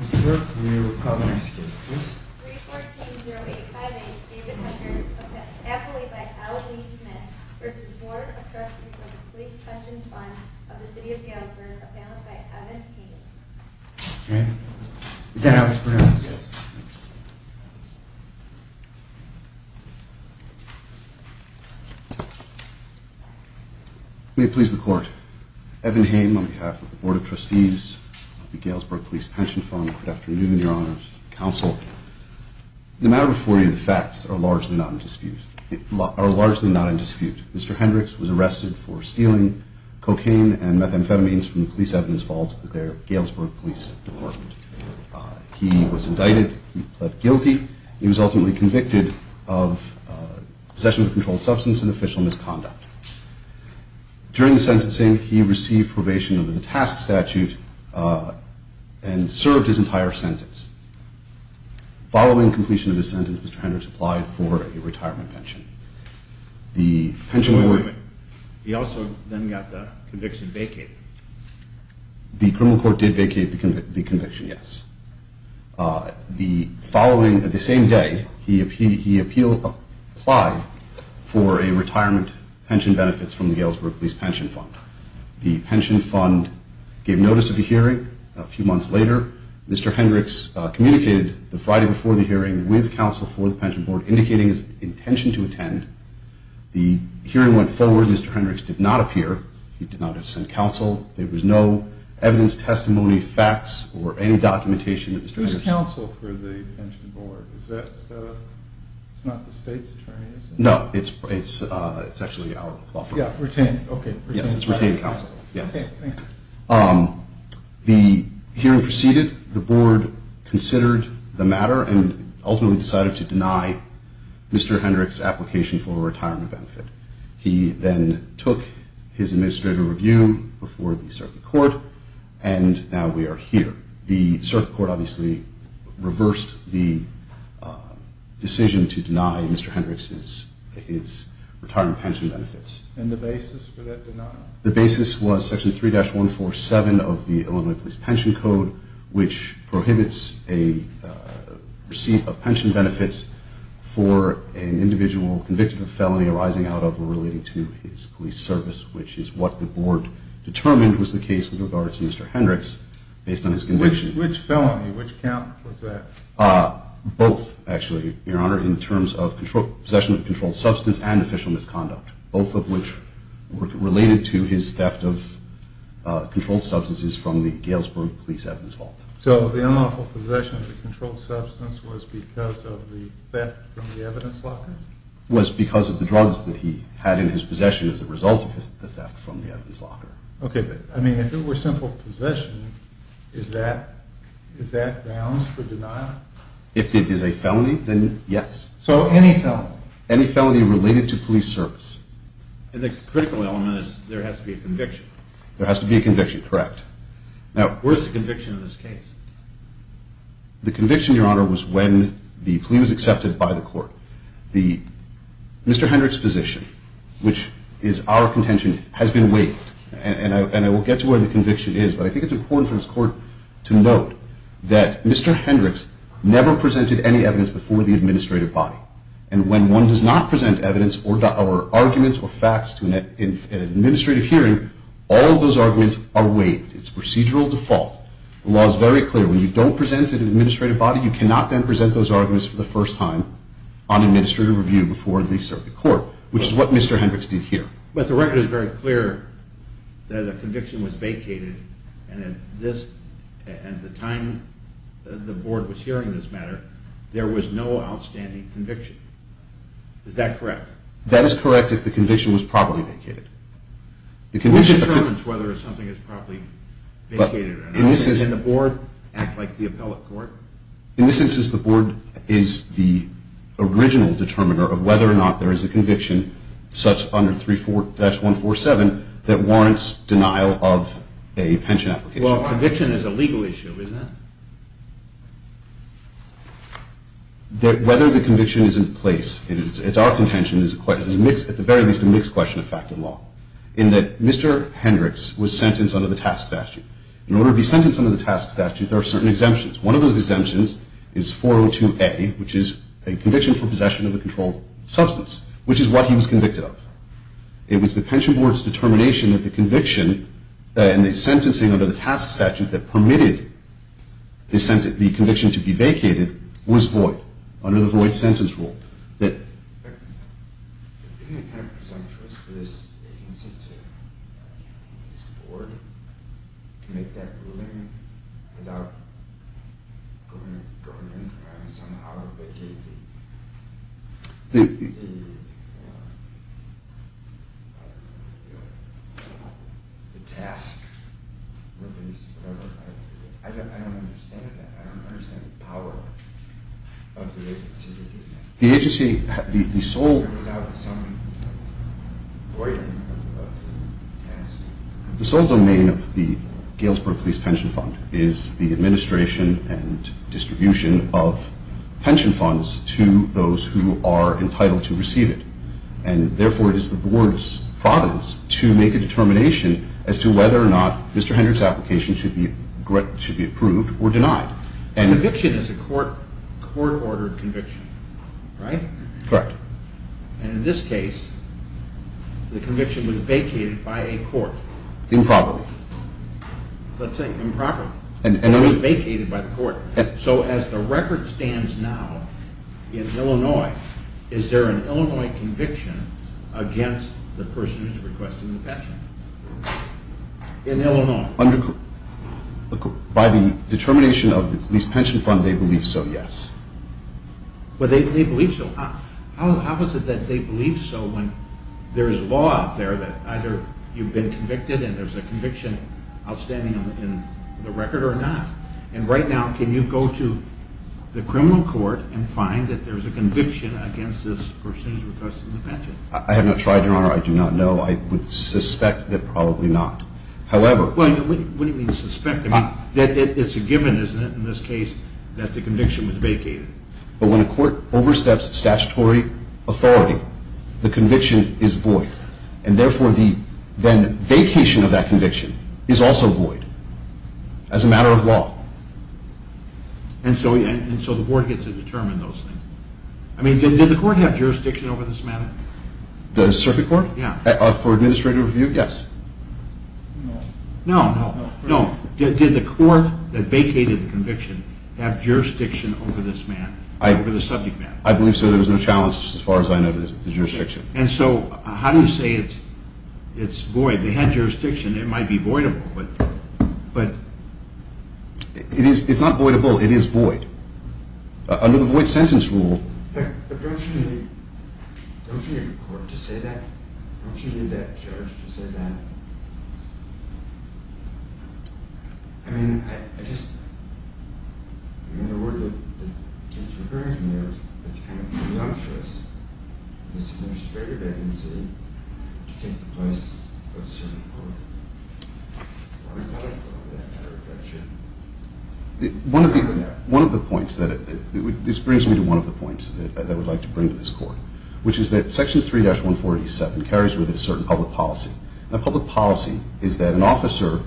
314-0858 David Hunters, appellate by Ali Smith v. Board of Trustees of the Police Pension Fund of the City of Galesburg, appellate by Evan Haim May it please the Court. Evan Haim on behalf of the Board of Trustees of the Galesburg Police Pension Fund. Good afternoon, Your Honor's Counsel. The matter before you, the facts, are largely not in dispute. Mr. Hendricks was arrested for stealing cocaine and methamphetamines from the police evidence vault of the Galesburg Police Department. He was indicted. He pled guilty. He was ultimately convicted of possession of a controlled substance and official misconduct. During the sentencing, he received probation under the task statute and served his entire sentence. Following completion of his sentence, Mr. Hendricks applied for a retirement pension. He also then got the conviction vacated. The criminal court did vacate the conviction, yes. The following, the same day, he applied for a retirement pension benefit from the Galesburg Police Pension Fund. The pension fund gave notice of the hearing a few months later. Mr. Hendricks communicated the Friday before the hearing with counsel for the pension board, indicating his intention to attend. The hearing went forward. Mr. Hendricks did not appear. He did not send counsel. There was no evidence, testimony, facts, or any documentation that Mr. Hendricks... Who's counsel for the pension board? Is that, it's not the state's attorney, is it? No, it's actually our law firm. Yeah, retained, okay. Yes, it's retained counsel, yes. Okay, thank you. The hearing proceeded. The board considered the matter and ultimately decided to deny Mr. Hendricks' application for a retirement benefit. He then took his administrative review before the circuit court, and now we are here. The circuit court obviously reversed the decision to deny Mr. Hendricks his retirement pension benefits. And the basis for that denial? The basis was Section 3-147 of the Illinois Police Pension Code, which prohibits a receipt of pension benefits for an individual convicted of a felony arising out of or relating to his police service, which is what the board determined was the case with regards to Mr. Hendricks based on his conviction. Which felony? Which count was that? Both, actually, Your Honor, in terms of possession of a controlled substance and official misconduct, both of which were related to his theft of controlled substances from the Galesburg Police Evidence Vault. So the unlawful possession of the controlled substance was because of the theft from the evidence locker? It was because of the drugs that he had in his possession as a result of the theft from the evidence locker. Okay, but, I mean, if it were simple possession, is that grounds for denial? If it is a felony, then yes. So any felony? No, any felony related to police service. And the critical element is there has to be a conviction. There has to be a conviction, correct. Now, where is the conviction in this case? The conviction, Your Honor, was when the plea was accepted by the court. Mr. Hendricks' position, which is our contention, has been waived. And I will get to where the conviction is, but I think it's important for this court to note that Mr. Hendricks never presented any evidence before the administrative body. And when one does not present evidence or arguments or facts in an administrative hearing, all of those arguments are waived. It's procedural default. The law is very clear. When you don't present it in an administrative body, you cannot then present those arguments for the first time on administrative review before they serve the court, which is what Mr. Hendricks did here. But the record is very clear that the conviction was vacated, and at the time the board was hearing this matter, there was no outstanding conviction. Is that correct? That is correct if the conviction was properly vacated. Which determines whether something is properly vacated or not. Does the board act like the appellate court? In this instance, the board is the original determiner of whether or not there is a conviction such under 34-147 that warrants denial of a pension application. Well, conviction is a legal issue, isn't it? Whether the conviction is in place, it's our contention, is at the very least a mixed question of fact and law, in that Mr. Hendricks was sentenced under the task statute. In order to be sentenced under the task statute, there are certain exemptions. One of those exemptions is 402A, which is a conviction for possession of a controlled substance, which is what he was convicted of. It was the pension board's determination that the conviction and the sentencing under the task statute that permitted the conviction to be vacated was void under the void sentence rule. Isn't it kind of presumptuous for this agency, this board, to make that ruling without going in trying to somehow vacate the task? I don't understand that. I don't understand the power of the agency to do that. The agency, the sole domain of the Galesburg Police Pension Fund is the administration and distribution of pension funds to those who are entitled to receive it. And therefore, it is the board's providence to make a determination as to whether or not Mr. Hendricks' application should be approved or denied. Conviction is a court-ordered conviction, right? Correct. And in this case, the conviction was vacated by a court. Improperly. Let's say improperly. It was vacated by the court. So as the record stands now in Illinois, is there an Illinois conviction against the person who's requesting the pension in Illinois? By the determination of the Police Pension Fund, they believe so, yes. But they believe so. How is it that they believe so when there is law out there that either you've been convicted and there's a conviction outstanding in the record or not? And right now, can you go to the criminal court and find that there's a conviction against this person who's requesting the pension? I have not tried, Your Honor. I do not know. I would suspect that probably not. However— What do you mean suspect? It's a given, isn't it, in this case that the conviction was vacated? But when a court oversteps statutory authority, the conviction is void. And therefore, the then vacation of that conviction is also void as a matter of law. And so the board gets to determine those things. I mean, did the court have jurisdiction over this matter? The circuit court? Yeah. For administrative review? Yes. No. No. No. Did the court that vacated the conviction have jurisdiction over this matter, over the subject matter? I believe so. There was no challenge as far as I know to the jurisdiction. And so how do you say it's void? They had jurisdiction. It might be voidable. But— It's not voidable. It is void. Under the void sentence rule— But don't you need a court to say that? Don't you need a judge to say that? I mean, I just— I mean, the word that keeps recurring to me is it's kind of presumptuous, this administrative agency, to take the place of the circuit court. Are you talking about an interdiction? One of the points that—this brings me to one of the points that I would like to bring to this court, which is that Section 3-147 carries with it a certain public policy. That public policy is that an officer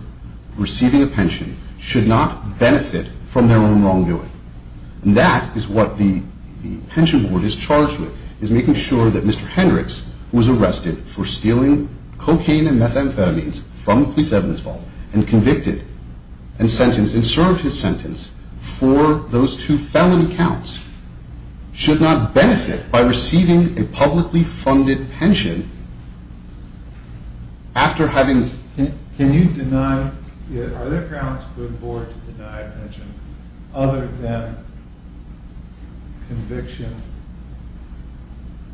receiving a pension should not benefit from their own wrongdoing. And that is what the pension board is charged with, is making sure that Mr. Hendricks, who was arrested for stealing cocaine and methamphetamines from a police evidence vault and convicted and sentenced and served his sentence for those two felony counts, should not benefit by receiving a publicly funded pension after having— Are there grounds for the board to deny a pension other than conviction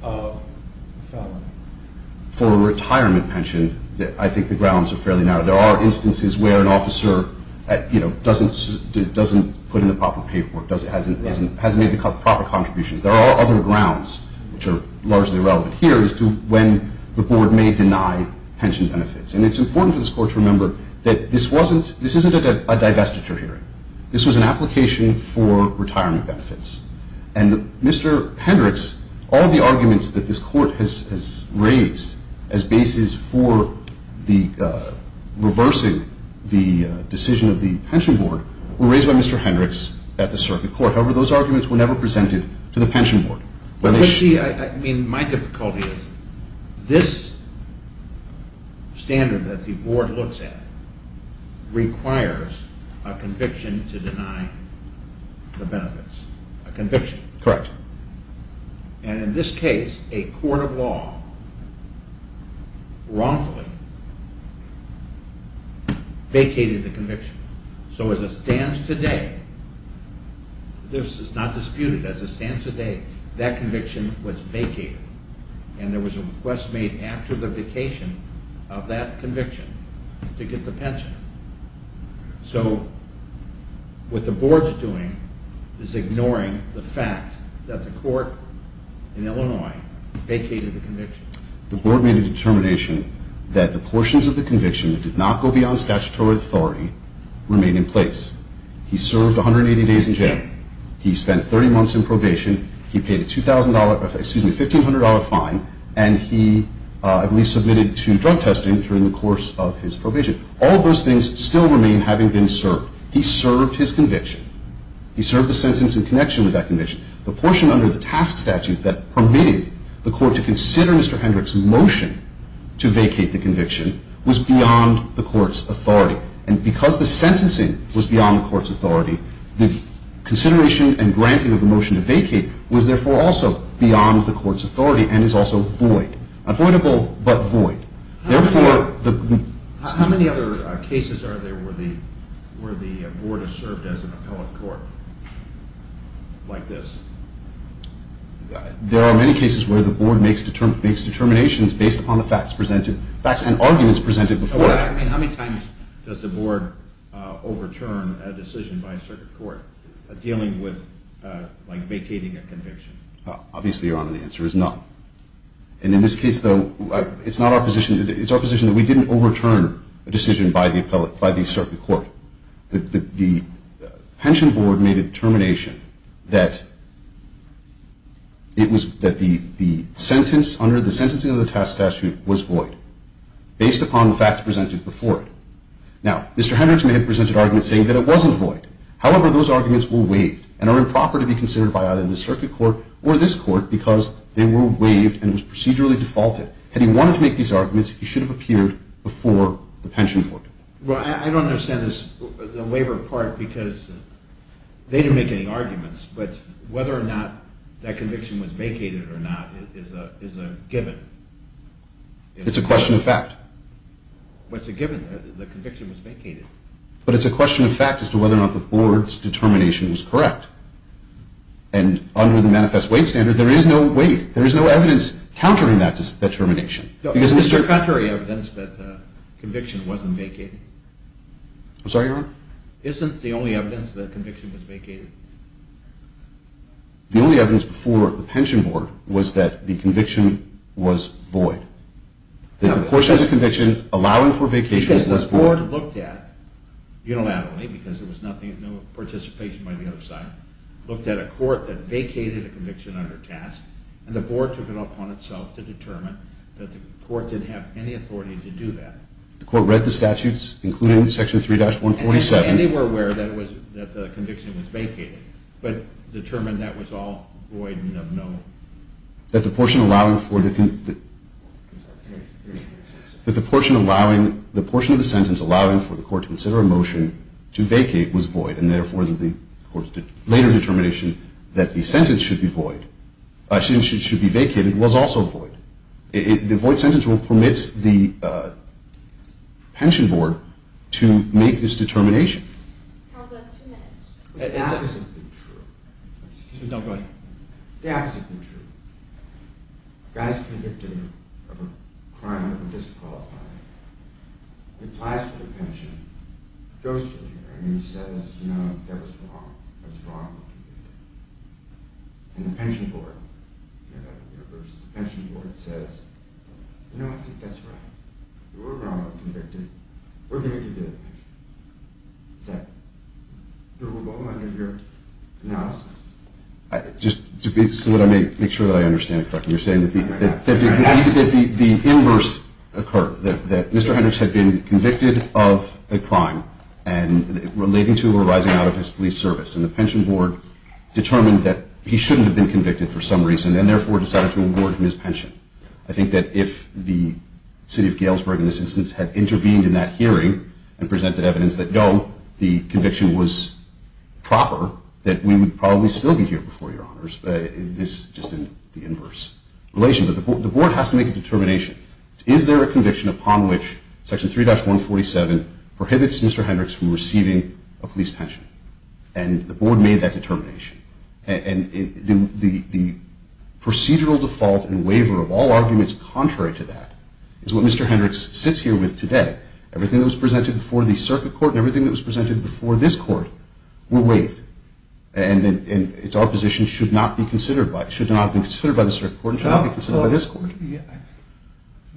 of a felony? For a retirement pension, I think the grounds are fairly narrow. There are instances where an officer doesn't put in the proper paperwork, hasn't made the proper contribution. There are other grounds, which are largely irrelevant here, as to when the board may deny pension benefits. And it's important for this court to remember that this wasn't—this isn't a divestiture hearing. This was an application for retirement benefits. And Mr. Hendricks, all the arguments that this court has raised as basis for reversing the decision of the pension board were raised by Mr. Hendricks at the circuit court. However, those arguments were never presented to the pension board. I mean, my difficulty is this standard that the board looks at requires a conviction to deny the benefits. A conviction. Correct. And in this case, a court of law wrongfully vacated the conviction. So as it stands today, this is not disputed. As it stands today, that conviction was vacated. And there was a request made after the vacation of that conviction to get the pension. So what the board is doing is ignoring the fact that the court in Illinois vacated the conviction. The board made a determination that the portions of the conviction that did not go beyond statutory authority remain in place. He served 180 days in jail. He spent 30 months in probation. He paid a $2,000—excuse me, $1,500 fine. And he at least submitted to drug testing during the course of his probation. All of those things still remain having been served. He served his conviction. He served the sentence in connection with that conviction. The portion under the task statute that permitted the court to consider Mr. Hendricks' motion to vacate the conviction was beyond the court's authority. And because the sentencing was beyond the court's authority, the consideration and granting of the motion to vacate was therefore also beyond the court's authority and is also void—unvoidable but void. How many other cases are there where the board has served as an appellate court like this? There are many cases where the board makes determinations based upon the facts presented and arguments presented before it. I mean, how many times does the board overturn a decision by a circuit court dealing with vacating a conviction? Obviously, Your Honor, the answer is none. And in this case, though, it's our position that we didn't overturn a decision by the circuit court. The pension board made a determination that the sentence under the sentencing of the task statute was void based upon the facts presented before it. Now, Mr. Hendricks may have presented arguments saying that it wasn't void. However, those arguments were waived and are improper to be considered by either the circuit court or this court because they were waived and was procedurally defaulted. Had he wanted to make these arguments, he should have appeared before the pension board. Well, I don't understand the waiver part because they didn't make any arguments. But whether or not that conviction was vacated or not is a given. It's a question of fact. But it's a given that the conviction was vacated. But it's a question of fact as to whether or not the board's determination was correct. And under the manifest weight standard, there is no weight. There is no evidence countering that determination. Is there contrary evidence that the conviction wasn't vacated? I'm sorry, Your Honor? Isn't the only evidence that the conviction was vacated? The only evidence before the pension board was that the conviction was void. That the portion of the conviction allowing for vacation was void. Because the board looked at, unilaterally, because there was no participation by the other side, looked at a court that vacated a conviction under task, and the board took it upon itself to determine that the court didn't have any authority to do that. The court read the statutes, including Section 3-147. And they were aware that the conviction was vacated, but determined that was all void and of no... That the portion of the sentence allowing for the court to consider a motion to vacate was void, and therefore, the court's later determination that the sentence should be void, should be vacated, was also void. The void sentence permits the pension board to make this determination. Court has two minutes. The opposite is true. Excuse me. Go ahead. The opposite is true. A guy's convicted of a crime of disqualifying, he applies for the pension, goes through here, and he says, no, that was wrong. That was wrong. And the pension board says, no, I think that's right. You were wrong to be convicted. We're going to give you the pension. Is that your role under here? No. Just so that I may make sure that I understand correctly, that the inverse occurred, that Mr. Hendricks had been convicted of a crime relating to or arising out of his police service, and the pension board determined that he shouldn't have been convicted for some reason and therefore decided to award him his pension. I think that if the city of Galesburg in this instance had intervened in that hearing and presented evidence that, no, the conviction was proper, that we would probably still be here before your honors. This is just in the inverse relation. But the board has to make a determination. Is there a conviction upon which Section 3-147 prohibits Mr. Hendricks from receiving a police pension? And the board made that determination. And the procedural default and waiver of all arguments contrary to that is what Mr. Hendricks sits here with today. Everything that was presented before the circuit court and everything that was presented before this court were waived. And it's our position it should not be considered by the circuit court and should not be considered by this court.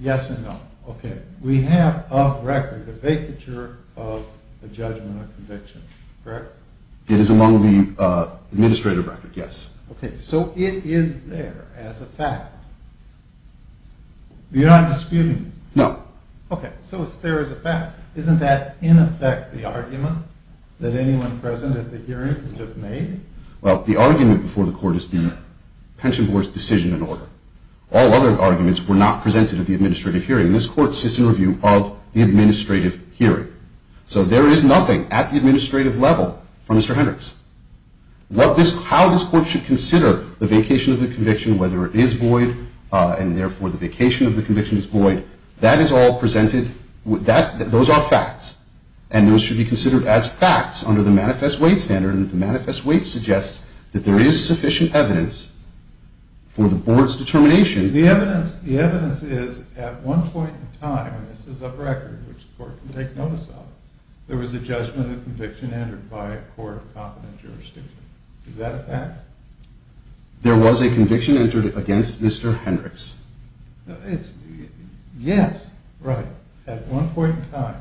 Yes and no. Okay. We have a record, a vacature of the judgment of conviction, correct? It is among the administrative record, yes. Okay. So it is there as a fact. You're not disputing it? No. Okay. So it's there as a fact. Isn't that, in effect, the argument that anyone present at the hearing would have made? Well, the argument before the court is the pension board's decision in order. All other arguments were not presented at the administrative hearing. This court sits in review of the administrative hearing. So there is nothing at the administrative level from Mr. Hendricks. And, therefore, the vacation of the conviction is void. That is all presented. Those are facts. And those should be considered as facts under the manifest weight standard. And the manifest weight suggests that there is sufficient evidence for the board's determination. The evidence is at one point in time, and this is a record which the court can take notice of, there was a judgment of conviction entered by a court of competent jurisdiction. Is that a fact? There was a conviction entered against Mr. Hendricks. Yes. Right. At one point in time.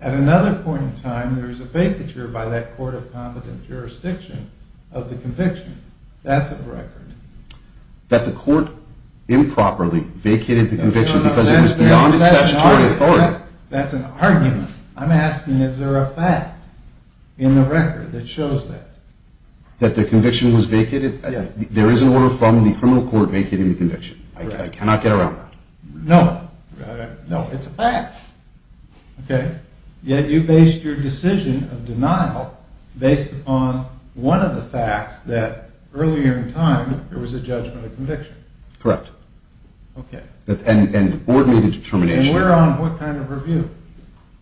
At another point in time, there is a vacature by that court of competent jurisdiction of the conviction. That's a record. That the court improperly vacated the conviction because it was beyond its statutory authority. That's an argument. I'm asking, is there a fact in the record that shows that? That the conviction was vacated? Yes. There is an order from the criminal court vacating the conviction. Correct. I cannot get around that. No. No, it's a fact. Okay. Yet you based your decision of denial based upon one of the facts that earlier in time there was a judgment of conviction. Correct. And the board made a determination. And we're on what kind of review?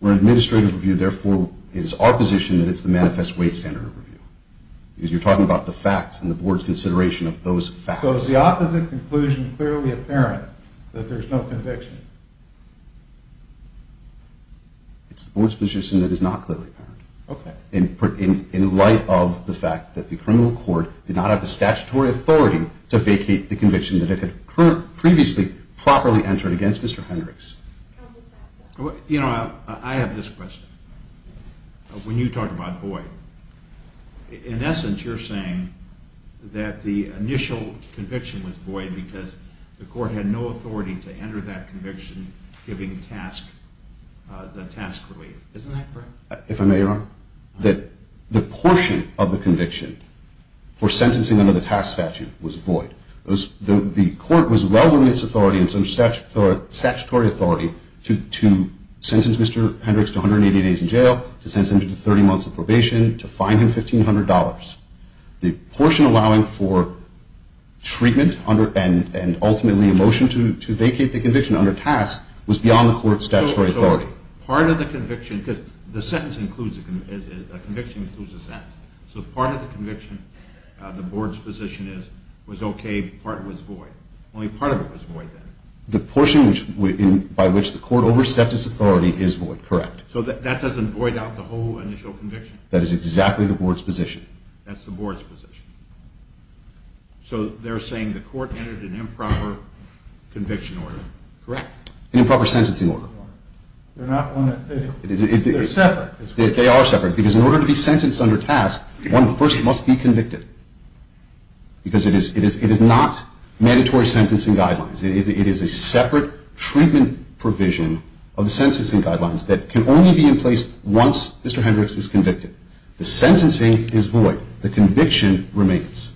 We're on administrative review. Therefore, it is our position that it's the manifest weight standard review. Because you're talking about the facts and the board's consideration of those facts. So is the opposite conclusion clearly apparent that there's no conviction? It's the board's position that it's not clearly apparent. Okay. In light of the fact that the criminal court did not have the statutory authority to vacate the conviction that it had previously properly entered against Mr. Hendricks. You know, I have this question. When you talk about void, in essence you're saying that the initial conviction was void because the court had no authority to enter that conviction giving the task relief. Isn't that correct? If I may, Your Honor, that the portion of the conviction for sentencing under the task statute was void. The court was well within its statutory authority to sentence Mr. Hendricks to 180 days in jail, to sentence him to 30 months of probation, to fine him $1,500. The portion allowing for treatment and ultimately a motion to vacate the conviction under task was beyond the court's statutory authority. Part of the conviction, because the conviction includes a sentence. So part of the conviction, the board's position is, was okay, part was void. Only part of it was void then. The portion by which the court overstepped its authority is void, correct. So that doesn't void out the whole initial conviction? That is exactly the board's position. That's the board's position. So they're saying the court entered an improper conviction order. Correct. An improper sentencing order. They're not one that, they're separate. They are separate. Because in order to be sentenced under task, one first must be convicted. Because it is not mandatory sentencing guidelines. It is a separate treatment provision of the sentencing guidelines that can only be in place once Mr. Hendricks is convicted. The sentencing is void. The conviction remains.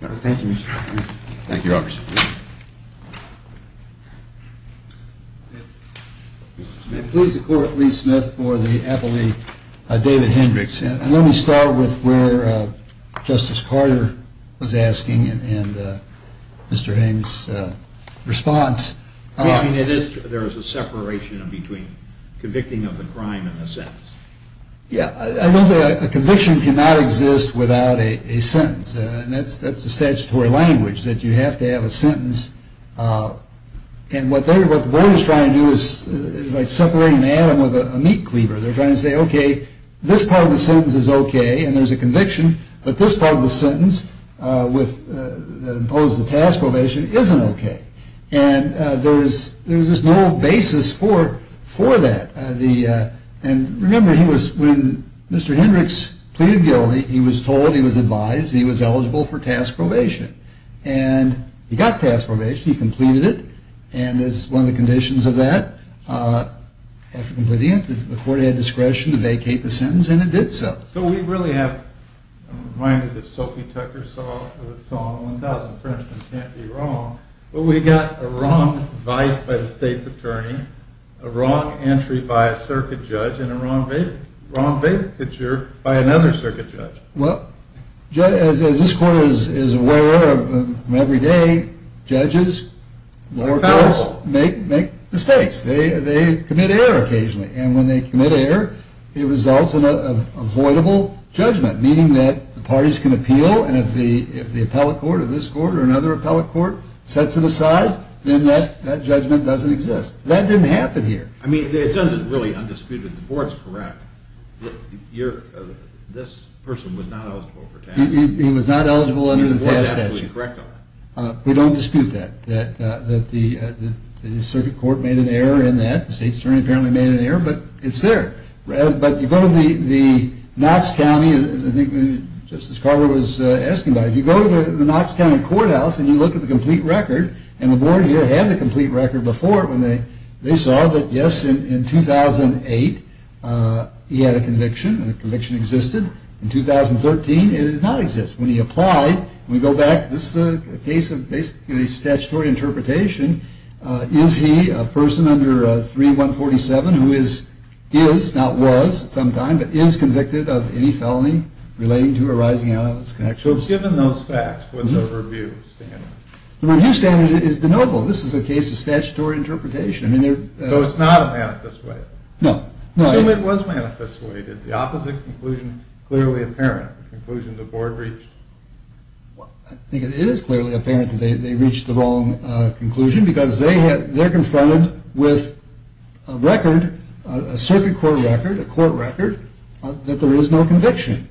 Thank you, Your Honor. May it please the court, Lee Smith for the appellee, David Hendricks. And let me start with where Justice Carter was asking and Mr. Haines' response. I mean, there is a separation between convicting of a crime and a sentence. Yeah, I don't think a conviction cannot exist without a sentence. And that's the statutory language, that you have to have a sentence. And what the board is trying to do is like separating an atom with a meat cleaver. They're trying to say, okay, this part of the sentence is okay, and there's a conviction, but this part of the sentence that imposed the task probation isn't okay. And there's no basis for that. And remember, when Mr. Hendricks pleaded guilty, he was told, he was advised, he was eligible for task probation. And he got task probation. He completed it. And that's one of the conditions of that. After completing it, the court had discretion to vacate the sentence, and it did so. So we really have, I'm reminded of Sophie Tucker's song, A Thousand Frenchmen Can't Be Wrong, but we got a wrong vice by the state's attorney, a wrong entry by a circuit judge, and a wrong vacature by another circuit judge. Well, as this court is aware of every day, judges, lower courts, make mistakes. They commit error occasionally. And when they commit error, it results in an avoidable judgment, meaning that the parties can appeal, and if the appellate court or this court or another appellate court sets it aside, then that judgment doesn't exist. That didn't happen here. I mean, it's really undisputed. The board's correct. This person was not eligible for task. He was not eligible under the task statute. The board's absolutely correct on that. We don't dispute that, that the circuit court made an error in that. The state's attorney apparently made an error, but it's there. But you go to the Knox County, as I think Justice Carter was asking about it, you go to the Knox County Courthouse and you look at the complete record, he had a conviction, and a conviction existed. In 2013, it did not exist. When he applied, we go back, this is a case of basically statutory interpretation. Is he a person under 3147 who is, not was at some time, but is convicted of any felony relating to or arising out of his connections? So given those facts, what's the review standard? The review standard is de novo. This is a case of statutory interpretation. So it's not a manifest waive? No. Assume it was manifest waive. Is the opposite conclusion clearly apparent? The conclusion the board reached? I think it is clearly apparent that they reached the wrong conclusion because they're confronted with a record, a circuit court record, a court record, that there is no conviction.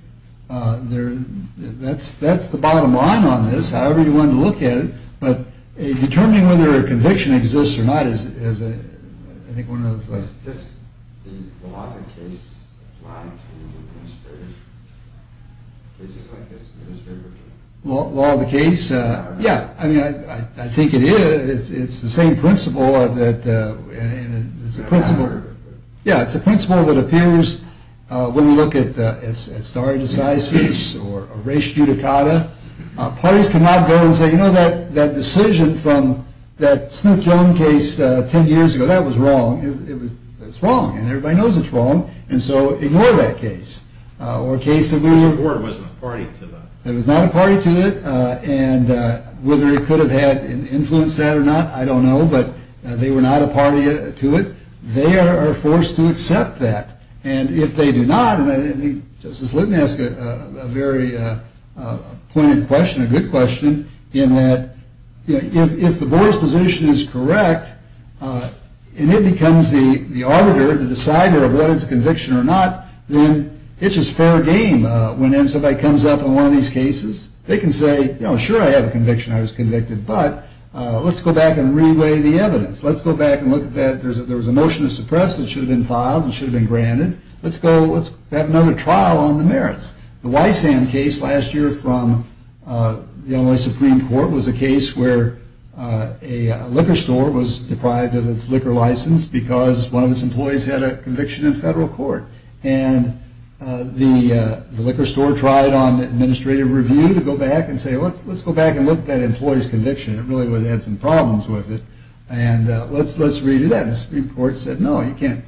That's the bottom line on this, however you want to look at it, but determining whether a conviction exists or not is, I think, one of the... Is just the law of the case applied to the administrator? Is it like this administrator? Law of the case? Yeah. I mean, I think it is. It's the same principle that, and it's a principle, yeah, it's a principle that appears when we look at stare decisis or res judicata. Parties cannot go and say, you know, that decision from that Smith-Jones case 10 years ago, that was wrong. It was wrong, and everybody knows it's wrong, and so ignore that case. Or a case of... The board wasn't a party to that. It was not a party to it, and whether it could have had an influence to that or not, I don't know, but they were not a party to it. They are forced to accept that, and if they do not, Let me ask a very pointed question, a good question, in that if the board's position is correct and it becomes the auditor, the decider of whether it's a conviction or not, then it's just fair game when somebody comes up on one of these cases. They can say, you know, sure, I have a conviction. I was convicted, but let's go back and re-weigh the evidence. Let's go back and look at that. There was a motion to suppress that should have been filed and should have been granted. Let's have another trial on the merits. The Wysan case last year from the Illinois Supreme Court was a case where a liquor store was deprived of its liquor license because one of its employees had a conviction in federal court, and the liquor store tried on administrative review to go back and say, let's go back and look at that employee's conviction. It really had some problems with it, and let's re-do that. The Illinois Supreme Court said, no, you can't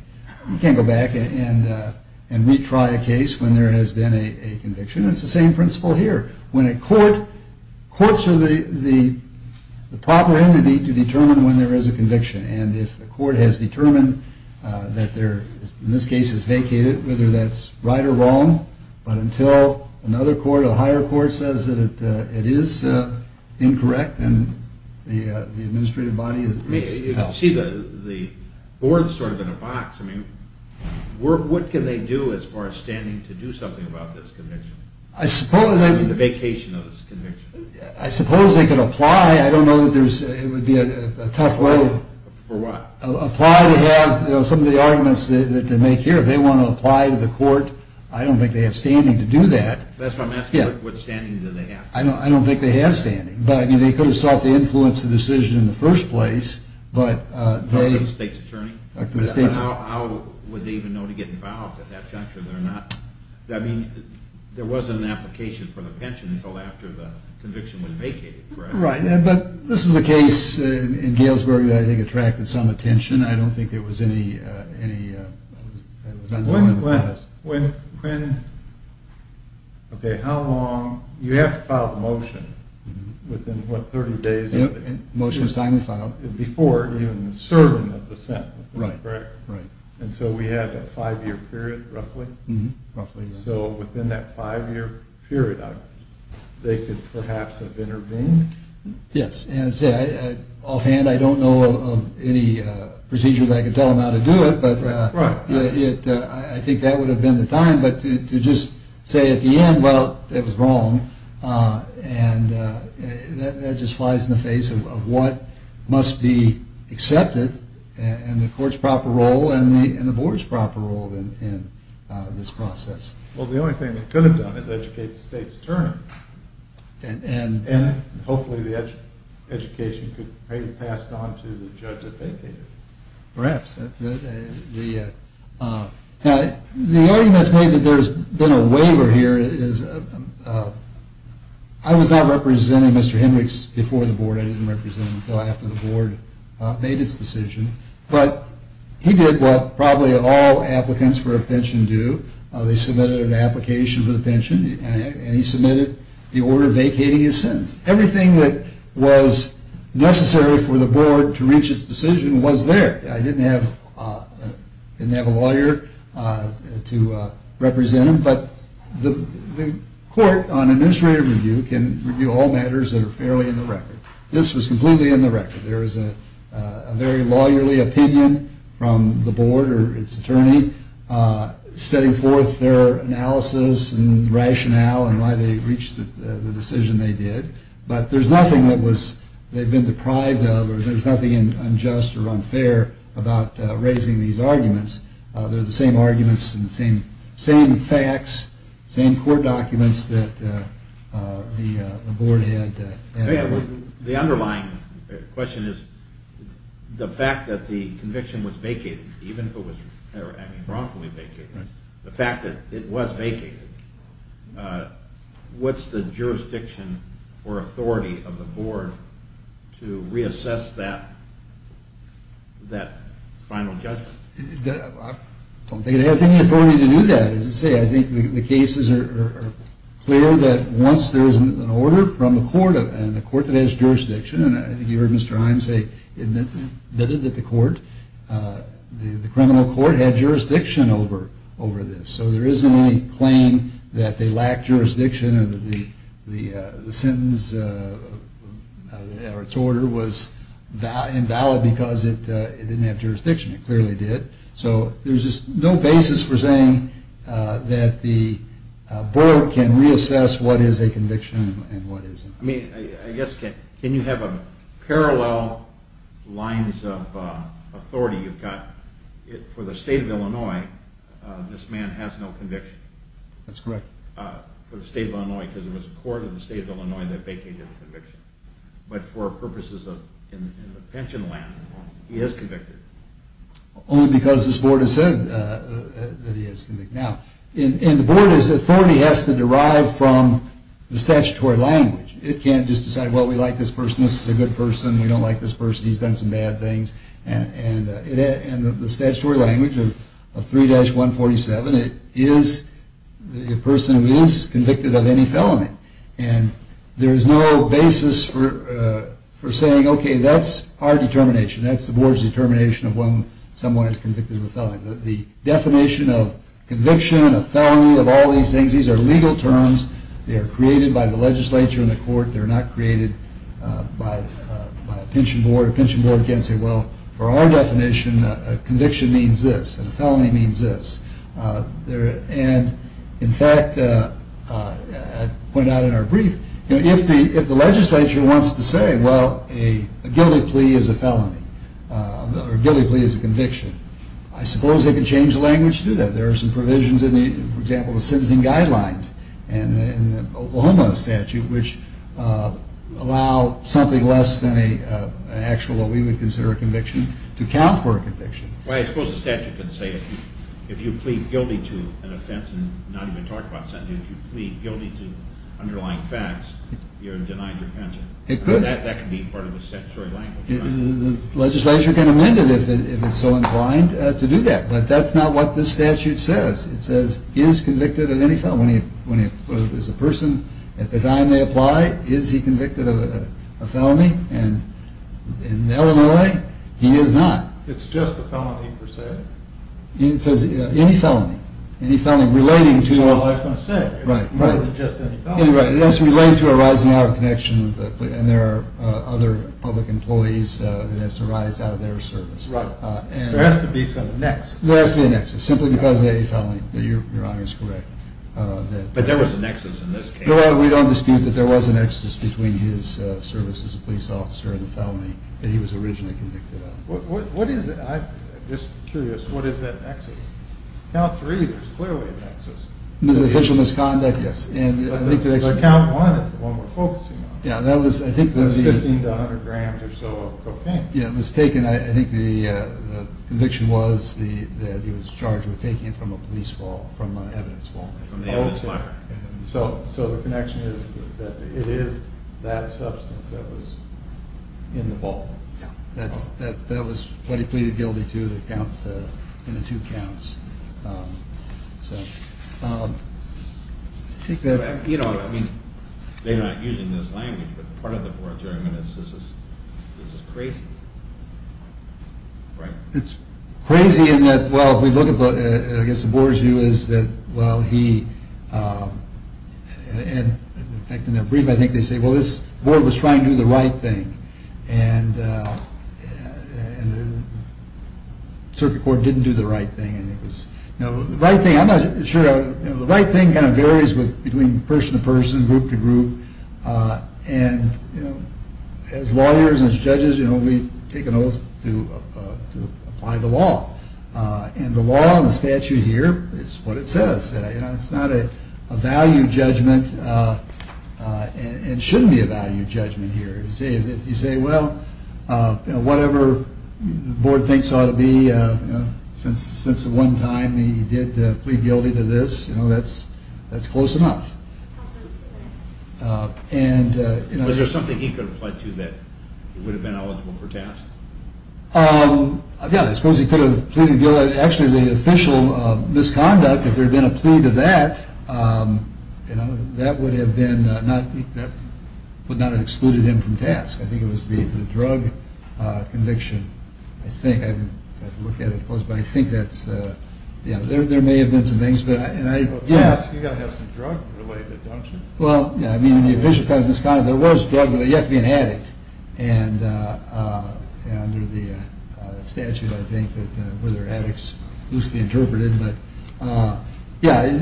go back and re-try a case when there has been a conviction. It's the same principle here. Courts are the property to determine when there is a conviction, and if a court has determined that in this case it's vacated, whether that's right or wrong, but until another court, a higher court, says that it is incorrect, then the administrative body is out. You see the board is sort of in a box. What can they do as far as standing to do something about this conviction? The vacation of this conviction. I suppose they could apply. I don't know that there's a tough way. For what? Apply to have some of the arguments that they make here. If they want to apply to the court, I don't think they have standing to do that. That's what I'm asking, what standing do they have? I don't think they have standing, but they could have sought to influence the decision in the first place, but they... The state's attorney? The state's attorney. How would they even know to get involved in that country? I mean, there wasn't an application for the pension until after the conviction was vacated, correct? Right, but this was a case in Galesburg that I think attracted some attention. I don't think there was any... When, okay, how long? You have to file the motion within, what, 30 days? Yep, the motion was finally filed. Before even the serving of the sentence, correct? Right, right. And so we had a five-year period, roughly? Roughly, yeah. So within that five-year period, they could perhaps have intervened? Yes, and say, offhand, I don't know of any procedures I could tell them how to do it, but I think that would have been the time, but to just say at the end, well, it was wrong, and that just flies in the face of what must be accepted in the court's proper role and the board's proper role in this process. Well, the only thing they could have done is educate the state's attorney, and hopefully the education could be passed on to the judge that vacated. Perhaps. The argument's made that there's been a waiver here. I was not representing Mr. Hendricks before the board. I didn't represent him until after the board made its decision, but he did what probably all applicants for a pension do. They submitted an application for the pension, and he submitted the order vacating his sentence. Everything that was necessary for the board to reach its decision was there. I didn't have a lawyer to represent him, but the court on administrative review can review all matters that are fairly in the record. This was completely in the record. There is a very lawyerly opinion from the board or its attorney setting forth their analysis and rationale and why they reached the decision they did, but there's nothing that they've been deprived of, or there's nothing unjust or unfair about raising these arguments. They're the same arguments and the same facts, same court documents that the board had. The underlying question is the fact that the conviction was vacated, even if it was wrongfully vacated, the fact that it was vacated. What's the jurisdiction or authority of the board to reassess that final judgment? I don't think it has any authority to do that. As I say, I think the cases are clear that once there is an order from the court, and the court that has jurisdiction, and I think you heard Mr. Iams say that the court, the criminal court had jurisdiction over this, so there isn't any claim that they lacked jurisdiction or that the sentence or its order was invalid because it didn't have jurisdiction. It clearly did. So there's just no basis for saying that the board can reassess what is a conviction and what isn't. I mean, I guess can you have parallel lines of authority? For the state of Illinois, this man has no conviction. That's correct. For the state of Illinois, because there was a court in the state of Illinois that vacated the conviction. But for purposes in the pension land, he is convicted. Only because this board has said that he is convicted. Now, the board's authority has to derive from the statutory language. It can't just decide, well, we like this person, this is a good person, we don't like this person, he's done some bad things, and the statutory language of 3-147, it is a person who is convicted of any felony. And there is no basis for saying, okay, that's our determination. That's the board's determination of when someone is convicted of a felony. The definition of conviction, of felony, of all these things, these are legal terms. They are created by the legislature and the court. They are not created by a pension board. A pension board can't say, well, for our definition, a conviction means this. A felony means this. And, in fact, I pointed out in our brief, if the legislature wants to say, well, a guilty plea is a felony, or a guilty plea is a conviction, I suppose they could change the language to do that. There are some provisions in the, for example, the sentencing guidelines, and in the Oklahoma statute, which allow something less than an actual, what we would consider a conviction, to count for a conviction. Well, I suppose the statute could say if you plead guilty to an offense and not even talk about sentencing, if you plead guilty to underlying facts, you're denied your pension. That could be part of the statutory language. The legislature can amend it if it's so inclined to do that. But that's not what this statute says. It says, is convicted of any felony. When he is a person, at the time they apply, is he convicted of a felony? And in Illinois, he is not. It's just a felony, per se. It says any felony. Any felony relating to a… That's what I was going to say. Right. It's more than just any felony. Right. It has to relate to a rising hour of connection, and there are other public employees that has to rise out of their service. Right. There has to be some annex. There has to be an annex, simply because it's a felony. Your Honor is correct. But there was an annex in this case. We don't dispute that there was an annex between his service as a police officer and the felony that he was originally convicted of. What is it? I'm just curious. What is that annex? Count three, there's clearly an annex. There's an official misconduct, yes. The count one is the one we're focusing on. Yeah, that was, I think… It was 15 to 100 grams or so of cocaine. Yeah, it was taken. I think the conviction was that he was charged with taking it from a police vault, from an evidence vault. From the evidence locker. So the connection is that it is that substance that was in the vault. Yeah. That was what he pleaded guilty to in the two counts. You know, I mean, they're not using this language, but part of the Board of Judgements is this is crazy, right? It's crazy in that, well, if we look at, I guess the Board's view is that, well, he, and in fact, in their brief, I think they say, well, this Board was trying to do the right thing, and the Circuit Court didn't do the right thing. I think it was, you know, the right thing, I'm not sure, the right thing kind of varies between person to person, group to group, and, you know, as lawyers and as judges, you know, we take an oath to apply the law, and the law and the statute here is what it says. You know, it's not a value judgment, and it shouldn't be a value judgment here. If you say, well, you know, whatever the Board thinks ought to be, you know, since the one time he did plead guilty to this, you know, that's close enough. Was there something he could have applied to that he would have been eligible for TASC? Yeah, I suppose he could have pleaded guilty. Actually, the official misconduct, if there had been a plea to that, you know, that would have been not, that would not have excluded him from TASC. I think it was the drug conviction, I think. I haven't looked at it in close, but I think that's, you know, Yeah. You've got to have some drug-related, don't you? Well, yeah, I mean, in the official misconduct, there was drug, but you have to be an addict. And under the statute, I think, that whether addicts loosely interpreted, but yeah.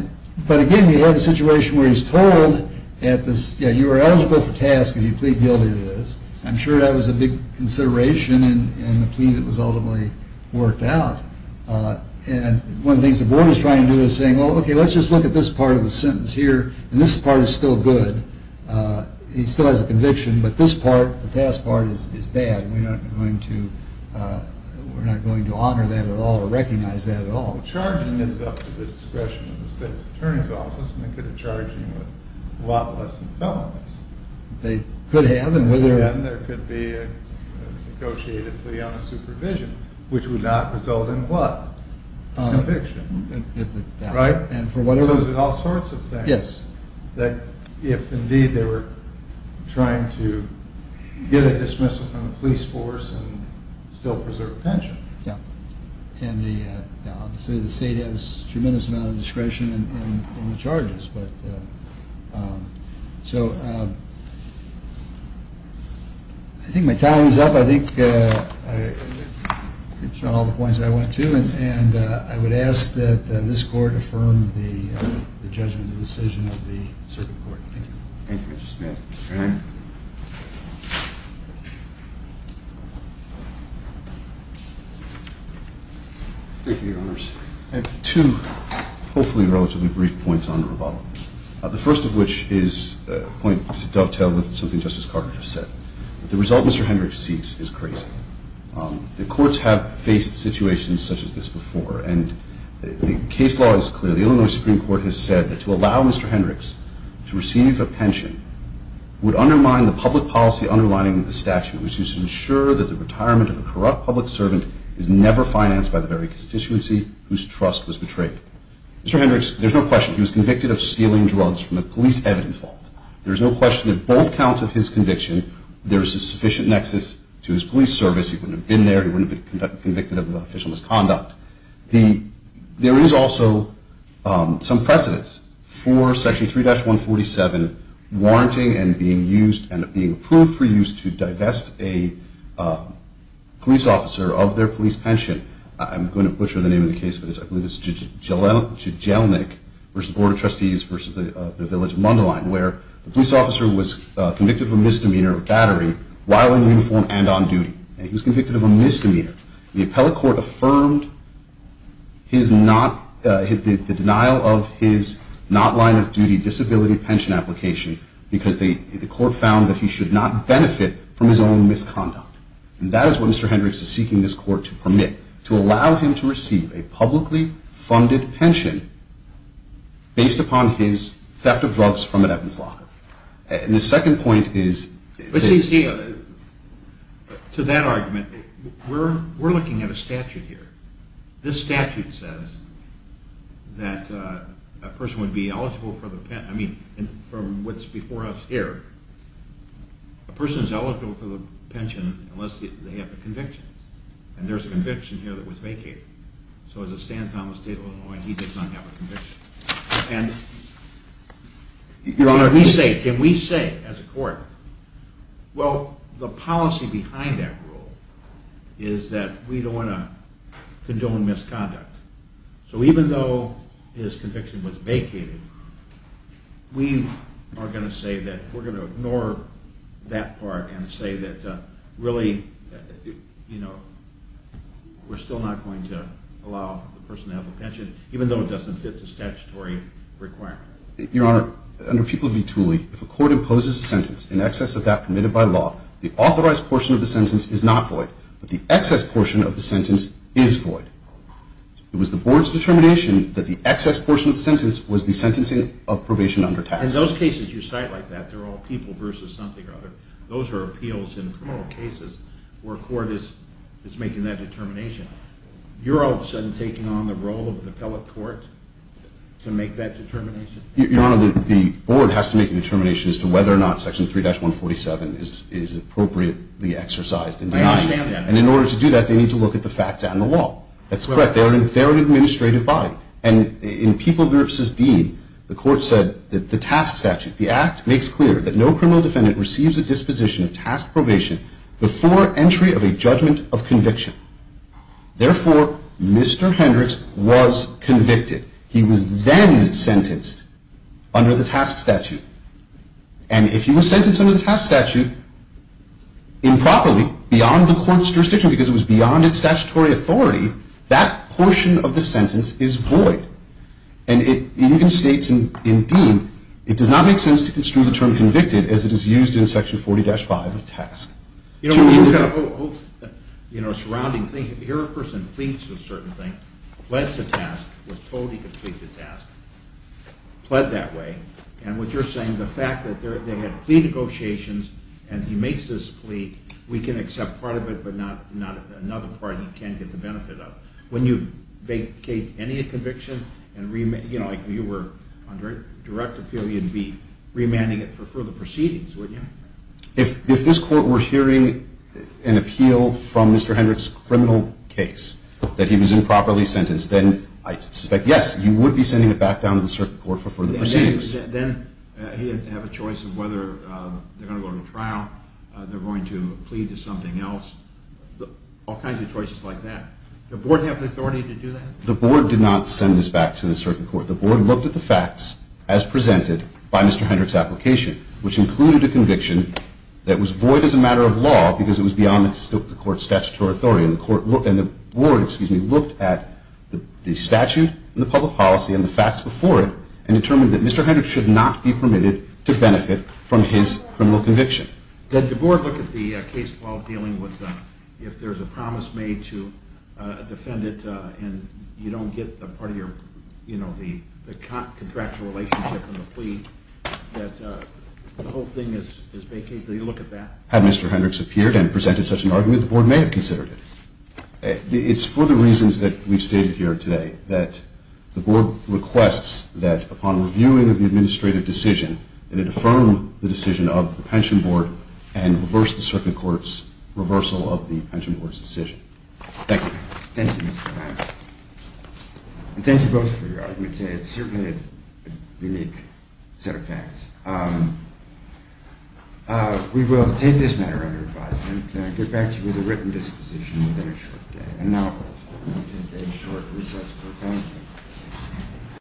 But again, we have a situation where he's told at this, yeah, you are eligible for TASC if you plead guilty to this. I'm sure that was a big consideration in the plea that was ultimately worked out. And one of the things the board is trying to do is saying, well, okay, let's just look at this part of the sentence here. And this part is still good. He still has a conviction, but this part, the TASC part, is bad. We're not going to honor that at all or recognize that at all. Charging is up to the discretion of the state's attorney's office, and they could have charged him with a lot less than felonies. They could have, and whether So there's all sorts of things. Yes. That if, indeed, they were trying to get a dismissal from the police force and still preserve pension. Yeah. And obviously the state has a tremendous amount of discretion in the charges. So I think my time is up. I think I touched on all the points I wanted to, and I would ask that this court affirm the judgment and decision of the circuit court. Thank you. Thank you, Mr. Smith. Thank you, Your Honors. I have two hopefully relatively brief points on the rebuttal, the first of which is a point to dovetail with something Justice Carter just said. The result Mr. Hendricks seeks is crazy. The courts have faced situations such as this before, and the case law is clear. The Illinois Supreme Court has said that to allow Mr. Hendricks to receive a pension would undermine the public policy underlining the statute, which used to ensure that the retirement of a corrupt public servant is never financed by the very constituency whose trust was betrayed. Mr. Hendricks, there's no question he was convicted of stealing drugs from a police evidence vault. There's no question that both counts of his conviction. There is a sufficient nexus to his police service. He wouldn't have been there. He wouldn't have been convicted of official misconduct. There is also some precedence for Section 3-147 warranting and being approved for use to divest a police officer of their police pension. I'm going to butcher the name of the case for this. I believe it's Jejelnik v. Board of Trustees v. the Village of Mundelein, where a police officer was convicted of a misdemeanor of battery while in uniform and on duty. He was convicted of a misdemeanor. The appellate court affirmed the denial of his not-lying-of-duty disability pension application because the court found that he should not benefit from his own misconduct. And that is what Mr. Hendricks is seeking this court to permit, to allow him to receive a publicly funded pension based upon his theft of drugs from an evidence locker. And the second point is— But see, to that argument, we're looking at a statute here. This statute says that a person would be eligible for the pension—I mean, from what's before us here, a person is eligible for the pension unless they have a conviction. And there's a conviction here that was vacated. So as it stands now in the state of Illinois, he does not have a conviction. And, Your Honor, can we say, as a court, Well, the policy behind that rule is that we don't want to condone misconduct. So even though his conviction was vacated, we are going to say that we're going to ignore that part and say that really, you know, we're still not going to allow the person to have a pension, even though it doesn't fit the statutory requirement. Your Honor, under People v. Tooley, if a court imposes a sentence in excess of that permitted by law, the authorized portion of the sentence is not void, but the excess portion of the sentence is void. It was the board's determination that the excess portion of the sentence was the sentencing of probation under tax. In those cases you cite like that, they're all people versus something or other. Those are appeals in criminal cases where a court is making that determination. You're all of a sudden taking on the role of the appellate court to make that determination? Your Honor, the board has to make a determination as to whether or not Section 3-147 is appropriately exercised in denying it. I understand that. And in order to do that, they need to look at the facts and the law. That's correct. They're an administrative body. And in People v. Dean, the court said that the task statute, the act makes clear that no criminal defendant receives a disposition of task probation before entry of a judgment of conviction. Therefore, Mr. Hendricks was convicted. He was then sentenced under the task statute. And if he was sentenced under the task statute improperly, beyond the court's jurisdiction, because it was beyond its statutory authority, that portion of the sentence is void. And it even states in Dean, it does not make sense to construe the term convicted as it is used in Section 40-5 of task. You know, we've got a whole surrounding thing. Here a person pleads for a certain thing, pled the task, was told he could plead the task, pled that way. And what you're saying, the fact that they had plea negotiations and he makes this plea, we can accept part of it but not another part he can't get the benefit of. When you vacate any conviction and, you know, you were under direct appeal, you'd be remanding it for further proceedings, wouldn't you? If this court were hearing an appeal from Mr. Hendricks' criminal case that he was improperly sentenced, then I suspect, yes, you would be sending it back down to the circuit court for further proceedings. Then he'd have a choice of whether they're going to go to trial, they're going to plead to something else, all kinds of choices like that. Does the board have the authority to do that? The board did not send this back to the circuit court. The board looked at the facts as presented by Mr. Hendricks' application, which included a conviction that was void as a matter of law because it was beyond the court's statutory authority. And the board looked at the statute and the public policy and the facts before it and determined that Mr. Hendricks should not be permitted to benefit from his criminal conviction. Did the board look at the case while dealing with if there's a promise made to defend it and you don't get a part of your, you know, the contractual relationship and the plea, that the whole thing is vacated? Did they look at that? Had Mr. Hendricks appeared and presented such an argument, the board may have considered it. It's for the reasons that we've stated here today, that the board requests that, upon reviewing of the administrative decision, that it affirm the decision of the pension board and reverse the circuit court's reversal of the pension board's decision. Thank you. Thank you, Mr. Van. And thank you both for your arguments. It's certainly a unique set of facts. We will take this matter under advisement and get back to you with a written disposition within a short day. And now we'll take a short recess for questions.